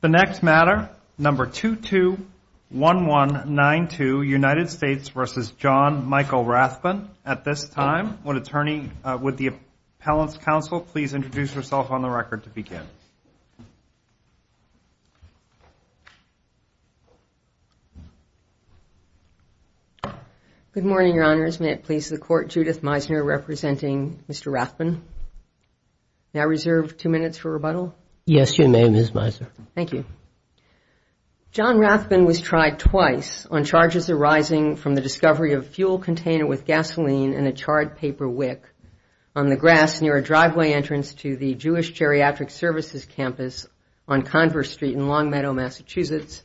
The next matter, number 221192, United States v. John Michael Rathbun. At this time, would the appellant's counsel please introduce herself on the record to begin? Good morning, Your Honors. May it please the Court, Judith Meisner representing Mr. Rathbun. May I reserve two minutes for rebuttal? Yes, you may, Ms. Meisner. Thank you. John Rathbun was tried twice on charges arising from the discovery of a fuel container with gasoline and a charred paper wick on the grass near a driveway entrance to the Jewish Geriatric Services Campus on Converse Street in Longmeadow, Massachusetts,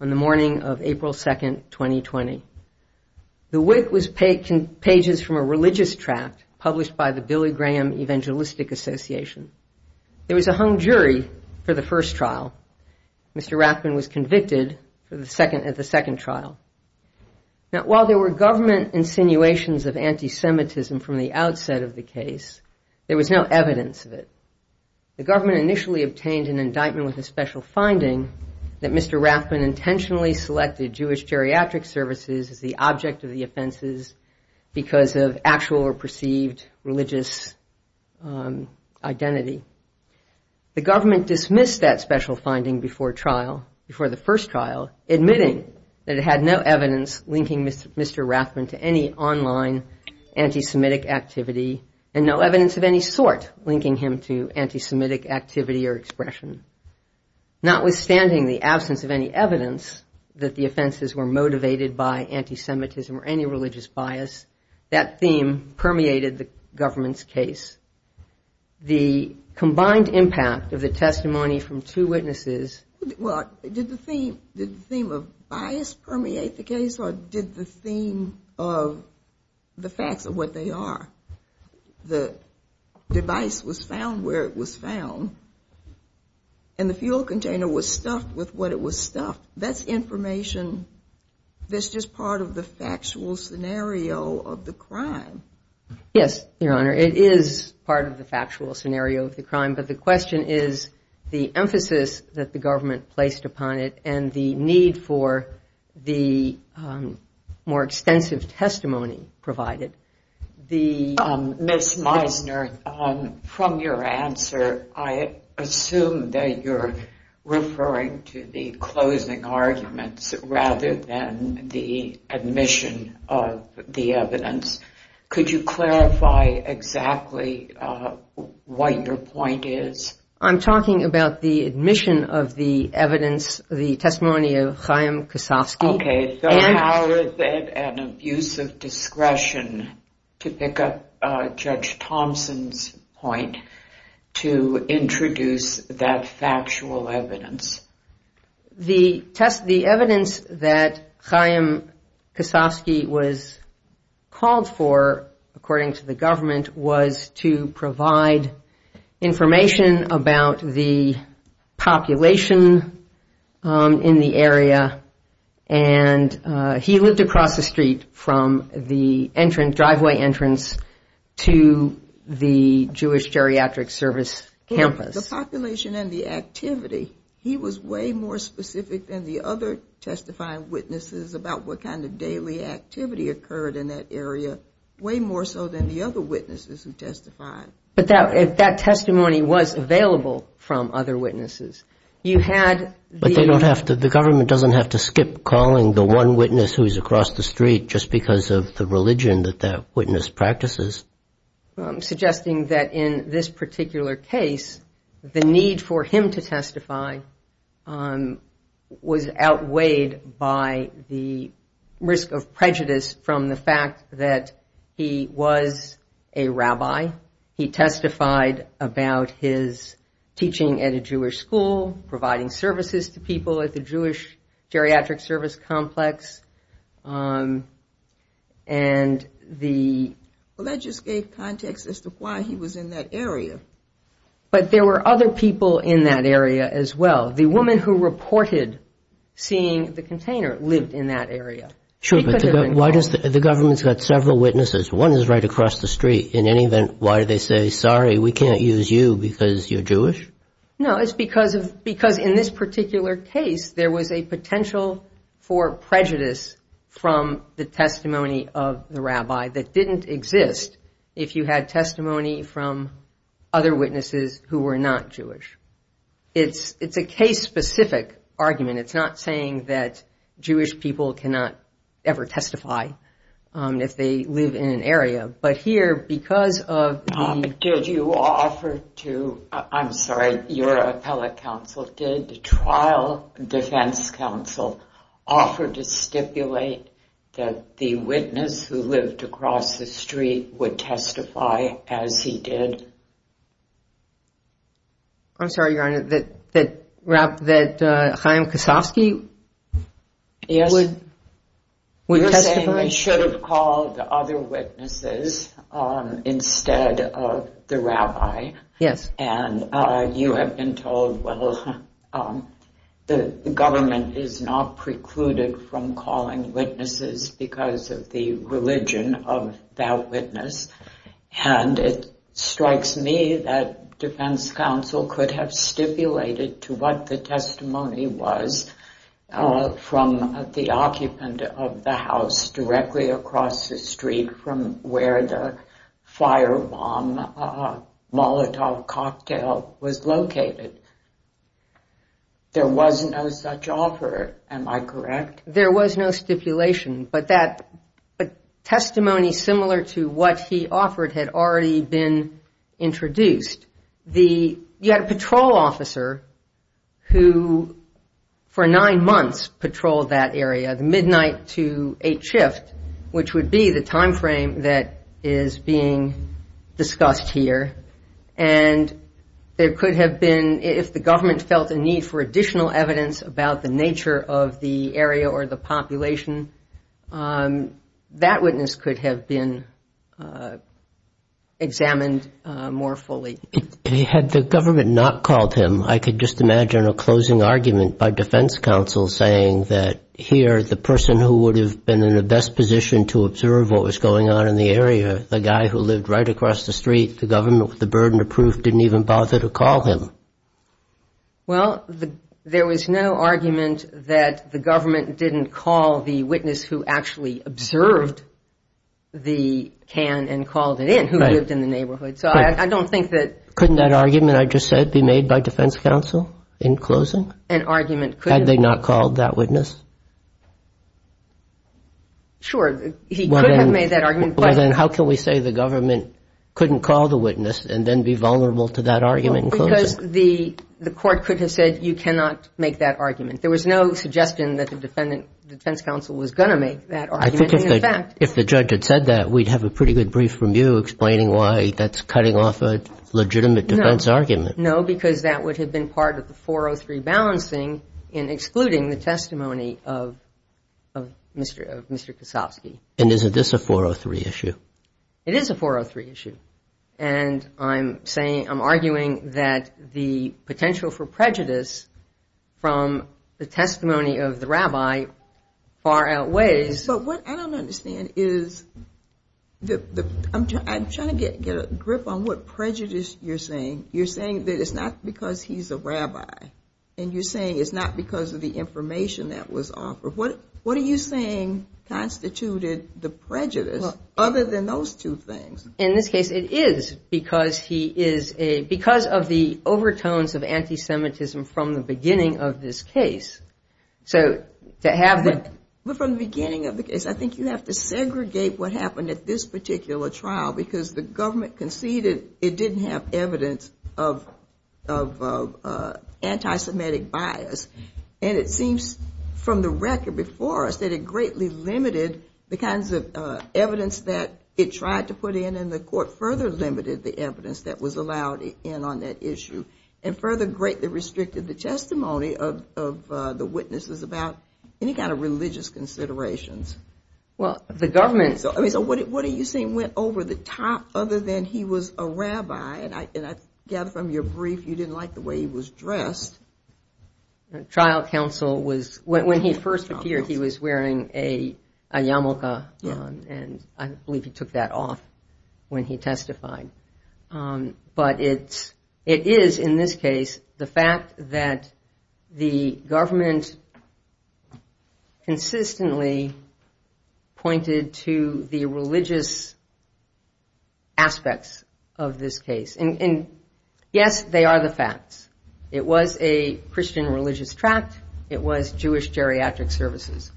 on the morning of April 2, 2020. The wick was pages from a religious tract published by the Billy Graham Evangelistic Association. There was a hung jury for the first trial. Mr. Rathbun was convicted at the second trial. Now, while there were government insinuations of anti-Semitism from the outset of the case, there was no evidence of it. The government initially obtained an indictment with a special finding that Mr. Rathbun intentionally selected Jewish Geriatric Services as the object of the offenses because of actual or perceived religious identity. The government dismissed that special finding before trial, before the first trial, admitting that it had no evidence linking Mr. Rathbun to any online anti-Semitic activity and no evidence of any sort linking him to anti-Semitic activity or expression. Notwithstanding the absence of any evidence that the offenses were motivated by anti-Semitism or any religious bias, that theme permeated the government's case. The combined impact of the testimony from two witnesses... Well, did the theme of bias permeate the case or did the theme of the facts of what they are? The device was found where it was found and the fuel container was stuffed with what it was stuffed. That's information that's just part of the factual scenario of the crime. Yes, Your Honor. It is part of the factual scenario of the crime, but the question is the emphasis that the government placed upon it and the need for the more extensive testimony provided. Ms. Meisner, from your answer, I assume that you're referring to the closing arguments rather than the admission of the evidence. Could you clarify exactly what your point is? I'm talking about the admission of the evidence, the testimony of Chaim Kosofsky. Okay, so how is it an abuse of discretion to pick up Judge Thompson's point to introduce that factual evidence? The evidence that Chaim Kosofsky was called for, according to the government, was to provide information about the population in the area. And he lived across the street from the driveway entrance to the Jewish geriatric service campus. The population and the activity, he was way more specific than the other testifying witnesses about what kind of daily activity occurred in that area, way more so than the other witnesses who testified. But that testimony was available from other witnesses. But the government doesn't have to skip calling the one witness who's across the street just because of the religion that that witness practices. Suggesting that in this particular case, the need for him to testify was outweighed by the other witnesses. The risk of prejudice from the fact that he was a rabbi, he testified about his teaching at a Jewish school, providing services to people at the Jewish geriatric service complex, and the... Well, that just gave context as to why he was in that area. But there were other people in that area as well. The woman who reported seeing the container lived in that area. No, it's because in this particular case, there was a potential for prejudice from the testimony of the rabbi that didn't exist. If you had testimony from other witnesses who were not Jewish. It's a case-specific argument. It's not saying that Jewish people cannot ever testify if they live in an area. But here, because of... Did you offer to, I'm sorry, your appellate counsel, did the trial defense counsel offer to stipulate that the witness who lived across the street would testify as he did? I'm sorry, Your Honor, that Chaim Kasofsky would testify? Chaim should have called the other witnesses instead of the rabbi. Yes. And you have been told, well, the government is not precluded from calling witnesses because of the religion of that witness. And it strikes me that defense counsel could have stipulated to what the testimony was from the occupant of the house directly across the street from where the firebomb Molotov cocktail was located. There was no such offer, am I correct? There was no stipulation, but that testimony similar to what he offered had already been introduced. You had a patrol officer who, for nine months, patrolled that area, the midnight to eight shift, which would be the time frame that is being discussed here. And there could have been, if the government felt a need for additional evidence about the nature of the area or the population, that witness could have been examined more fully. Had the government not called him, I could just imagine a closing argument by defense counsel saying that here the person who would have been in the best position to observe what was going on in the area, the guy who lived right across the street, the government with the burden of proof, didn't even bother to call him. Well, there was no argument that the government didn't call the witness who actually observed the can and called it in, who lived in the neighborhood. Couldn't that argument I just said be made by defense counsel in closing? Had they not called that witness? Sure. He could have made that argument. Well, then how can we say the government couldn't call the witness and then be vulnerable to that argument in closing? Because the court could have said you cannot make that argument. There was no suggestion that the defense counsel was going to make that argument. I think if the judge had said that, we'd have a pretty good brief from you explaining why that's cutting off a legitimate defense argument. No, because that would have been part of the 403 balancing in excluding the testimony of Mr. Kasofsky. And isn't this a 403 issue? It is a 403 issue. And I'm arguing that the potential for prejudice from the testimony of the rabbi far outweighs... But what I don't understand is, I'm trying to get a grip on what prejudice you're saying. You're saying that it's not because he's a rabbi and you're saying it's not because of the information that was offered. What are you saying constituted the prejudice other than those two things? In this case, it is because of the overtones of anti-Semitism from the beginning of this case. But from the beginning of the case, I think you have to segregate what happened at this particular trial. Because the government conceded it didn't have evidence of anti-Semitic bias. And it seems from the record before us that it greatly limited the kinds of evidence that it tried to put in. And the court further limited the evidence that was allowed in on that issue. And further greatly restricted the testimony of the witnesses about any kind of religious considerations. So what are you saying went over the top other than he was a rabbi? And I gather from your brief you didn't like the way he was dressed. When he first appeared he was wearing a yarmulke and I believe he took that off when he testified. But it is in this case the fact that the government consistently pointed to the religious aspects of this case. And yes, they are the facts. It was a Christian religious tract. It was Jewish geriatric services.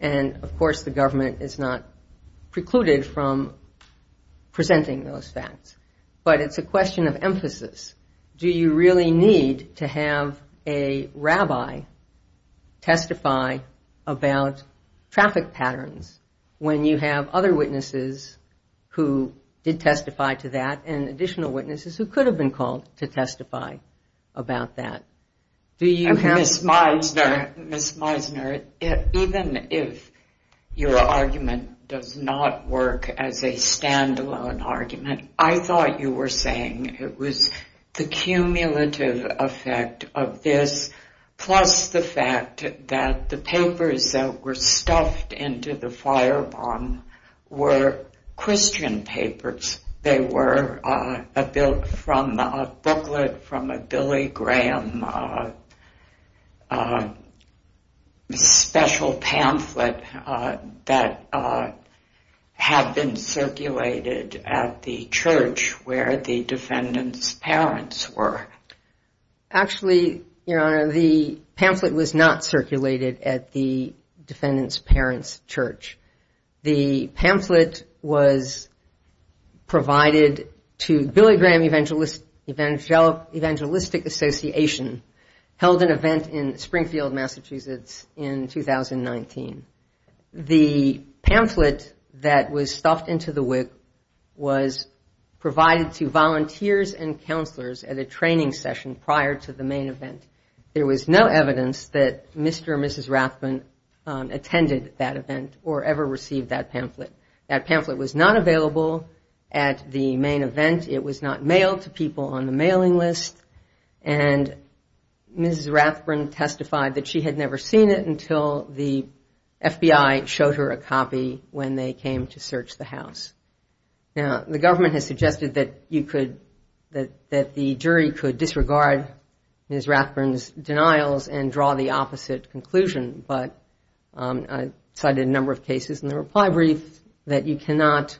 And of course the government is not precluded from presenting those facts. But it's a question of emphasis. Do you really need to have a rabbi testify about traffic patterns when you have other witnesses who did testify to that? And additional witnesses who could have been called to testify about that? Ms. Meisner, even if your argument does not work as a stand-alone argument, I thought you were saying it was the cumulative effect of this, plus the fact that the papers that were stuffed into the firebomb were Christian papers. They were built from a booklet from a Billy Graham special pamphlet that had been circulated at the church where the defendant's parents were. Actually, Your Honor, the pamphlet was not circulated at the defendant's parents' church. The pamphlet was provided to Billy Graham Evangelistic Association, held an event in Springfield, Massachusetts in 2019. The pamphlet that was stuffed into the WIC was provided to volunteers and counselors at a training session prior to the main event. There was no evidence that Mr. or Mrs. Rathbun attended that event or ever received that pamphlet. That pamphlet was not available at the main event. It was not mailed to people on the mailing list. And Mrs. Rathbun testified that she had never seen it until the FBI showed her a copy when they came to search the house. Now, the government has suggested that the jury could disregard Mrs. Rathbun's denials and draw the opposite conclusion. But I cited a number of cases in the reply brief that you cannot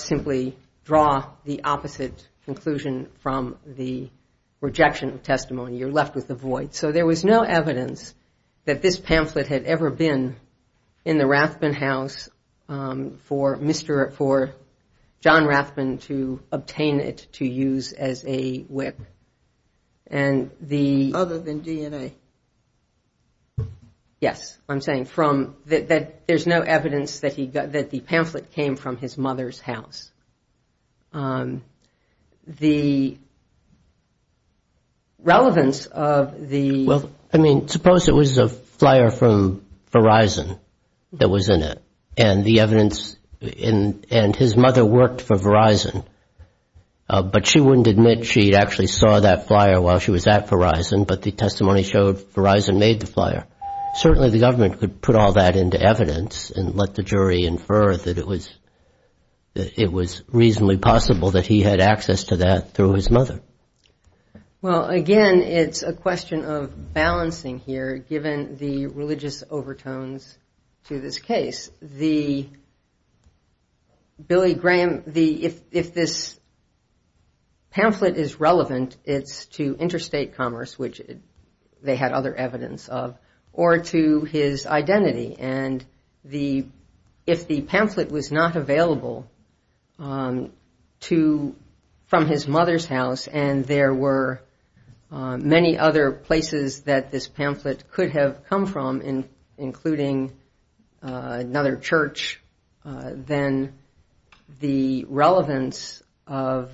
simply draw the opposite conclusion from the rejection of testimony. You're left with a void. So there was no evidence that this pamphlet had ever been in the Rathbun house for Mr. or for John Rathbun to obtain it to use as a WIC. Yes, I'm saying that there's no evidence that the pamphlet came from his mother's house. The relevance of the... Well, I mean, suppose it was a flyer from Verizon that was in it and the evidence and his mother worked for Verizon. But she wouldn't admit she actually saw that flyer while she was at Verizon, but the testimony showed Verizon made the flyer. Certainly the government could put all that into evidence and let the jury infer that it was reasonably possible that he had access to that through his mother. Well, again, it's a question of balancing here, given the religious overtones to this case. The Billy Graham... If this pamphlet is relevant, it's to interstate commerce, which they had other evidence of, or to his identity. And if the pamphlet was not available from his mother's house and there were many other places that this pamphlet could have come from, including another church, then the relevance of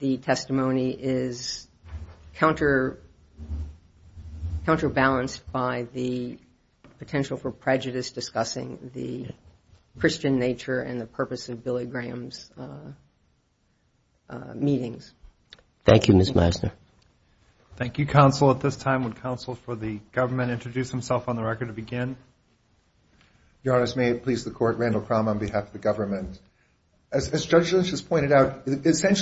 the testimony is counterbalanced by the potential for prejudice discussing the Christian nature and the purpose of Billy Graham's meetings. Thank you, Ms. Meisner. May it please the court, Randall Crum on behalf of the government. Thank you. Thank you, Ms. Meisner. Thank you. Thank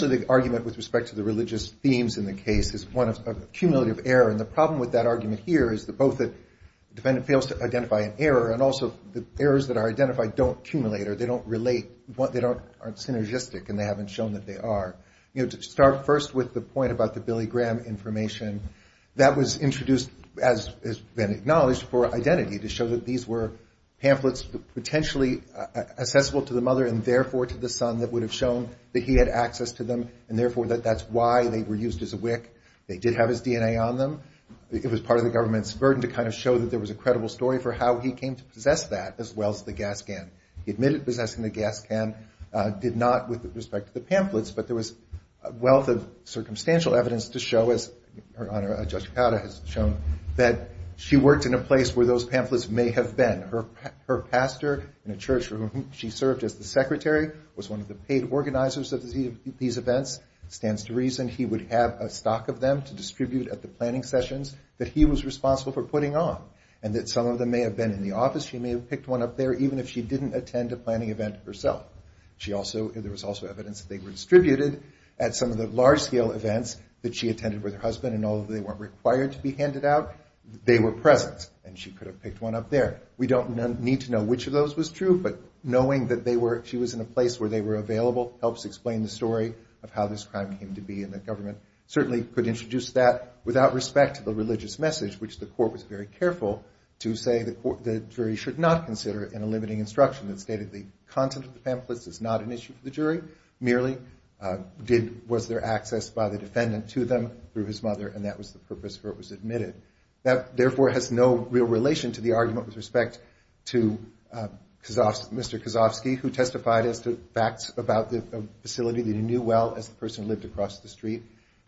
you, Mr. Kazofsky, who testified as to facts about the facility that he knew well as the person who lived across the street.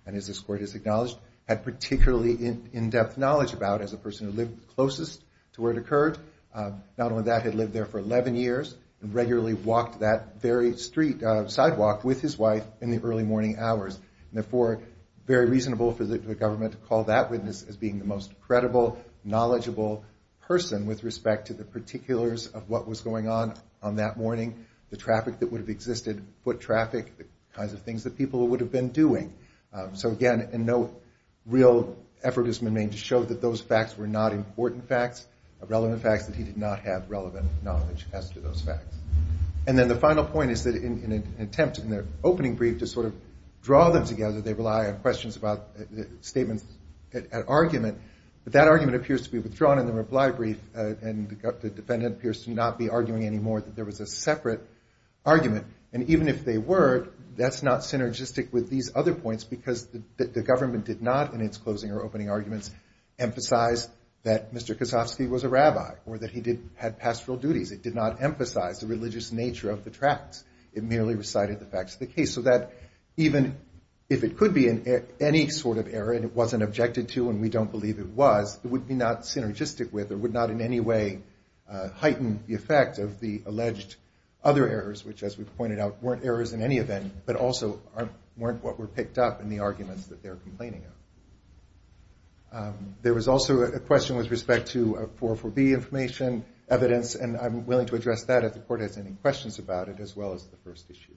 And as this court has acknowledged, had particularly in-depth knowledge about as a person who lived closest to where it occurred. Not only that, he had lived there for 11 years and regularly walked that very street, sidewalk, with his wife in the early morning hours. Therefore, very reasonable for the government to call that witness as being the most credible, knowledgeable person with respect to the particulars of what was going on. On that morning, the traffic that would have existed, foot traffic, the kinds of things that people would have been doing. So, again, and no real effort has been made to show that those facts were not important facts, relevant facts, that he did not have relevant knowledge as to those facts. And then the final point is that in an attempt in their opening brief to sort of draw them together, they rely on questions about statements at argument. But that argument appears to be withdrawn in the reply brief, and the defendant appears to not be arguing anymore that there was a separate argument. And even if they were, that's not synergistic with these other points because the government did not, in its closing or opening arguments, emphasize that Mr. Kazofsky was a rabbi or that he had pastoral duties. It did not emphasize the religious nature of the tracts. It merely recited the facts of the case. So that even if it could be any sort of error and it wasn't objected to, and we don't believe it was, it would be not synergistic with or would not in any way heighten the effect of the alleged other errors, which, as we've pointed out, weren't errors in any event, but also weren't what were picked up in the arguments that they're complaining of. There was also a question with respect to 404B information, evidence, and I'm willing to address that if the court has any questions about it, as well as the first issue.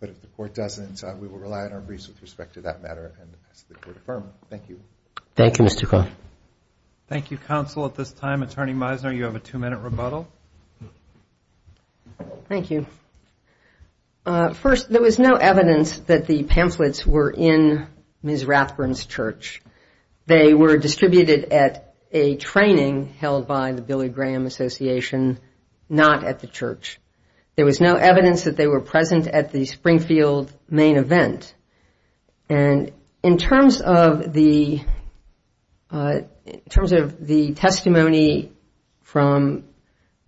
But if the court doesn't, we will rely on our briefs with respect to that matter, and ask that the court affirm. Thank you. Thank you, Counsel. At this time, Attorney Meisner, you have a two-minute rebuttal. Thank you. First, there was no evidence that the pamphlets were in Ms. Rathburn's church. They were distributed at a training held by the Billy Graham Association, not at the church. There was no evidence that they were present at the Springfield main event. And in terms of the testimony from Ms. Rathburn's church, there was no evidence that the pamphlets were in Ms. Rathburn's church. There was no evidence from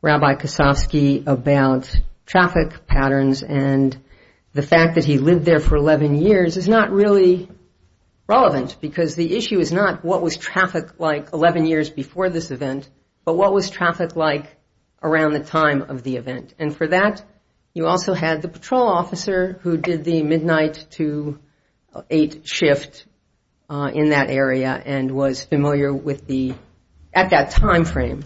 Rabbi Kosofsky about traffic patterns, and the fact that he lived there for 11 years is not really relevant, because the issue is not what was traffic like 11 years before this event, but what was traffic like around the time of the event. And for that, you also had the patrol officer who did the midnight to 8 shift in that area, and was familiar with the, at that time frame,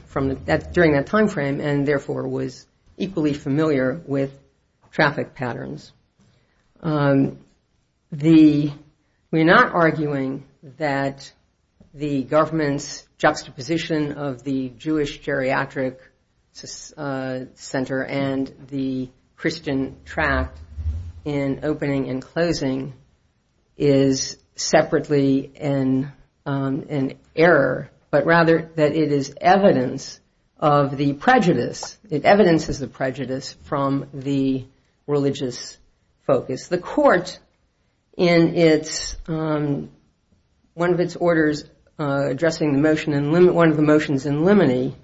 during that time frame, and therefore was equally familiar with traffic patterns. We're not arguing that the government's juxtaposition of the Jewish geriatric center and the Christian tract in opening and closing is separately an error, but rather that it is evidence of the prejudice, it evidences the prejudice from the religious focus. The court, in one of its orders addressing one of the motions in limine,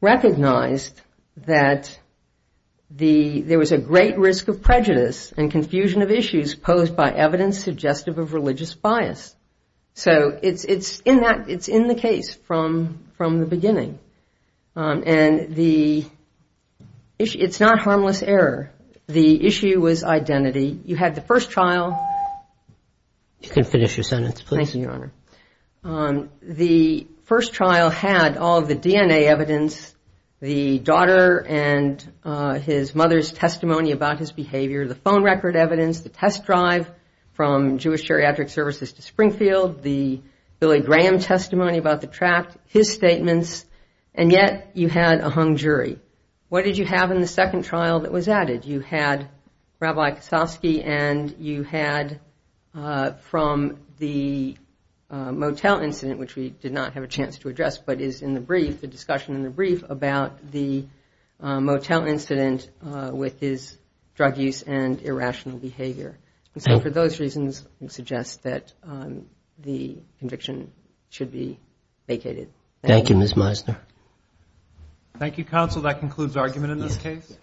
recognized that there was a great risk of prejudice and confusion of issues posed by evidence suggestive of religious bias. So it's in the case from the beginning, and it's not harmless error. The issue was identity. You had the first trial. The first trial had all of the DNA evidence, the daughter and his mother's testimony about his behavior, the phone record evidence, the test drive from Jewish geriatric services to Springfield, the Billy Graham testimony about the tract, his statements, and yet you had a hung jury. What did you have in the second trial that was added? You had Rabbi Kosofsky, and you had from the motel incident, which we did not have a chance to address, but is in the brief, a discussion in the brief, about the motel incident with his drug use and irrational behavior. So for those reasons, we suggest that the conviction should be vacated. Thank you, Ms. Meisner.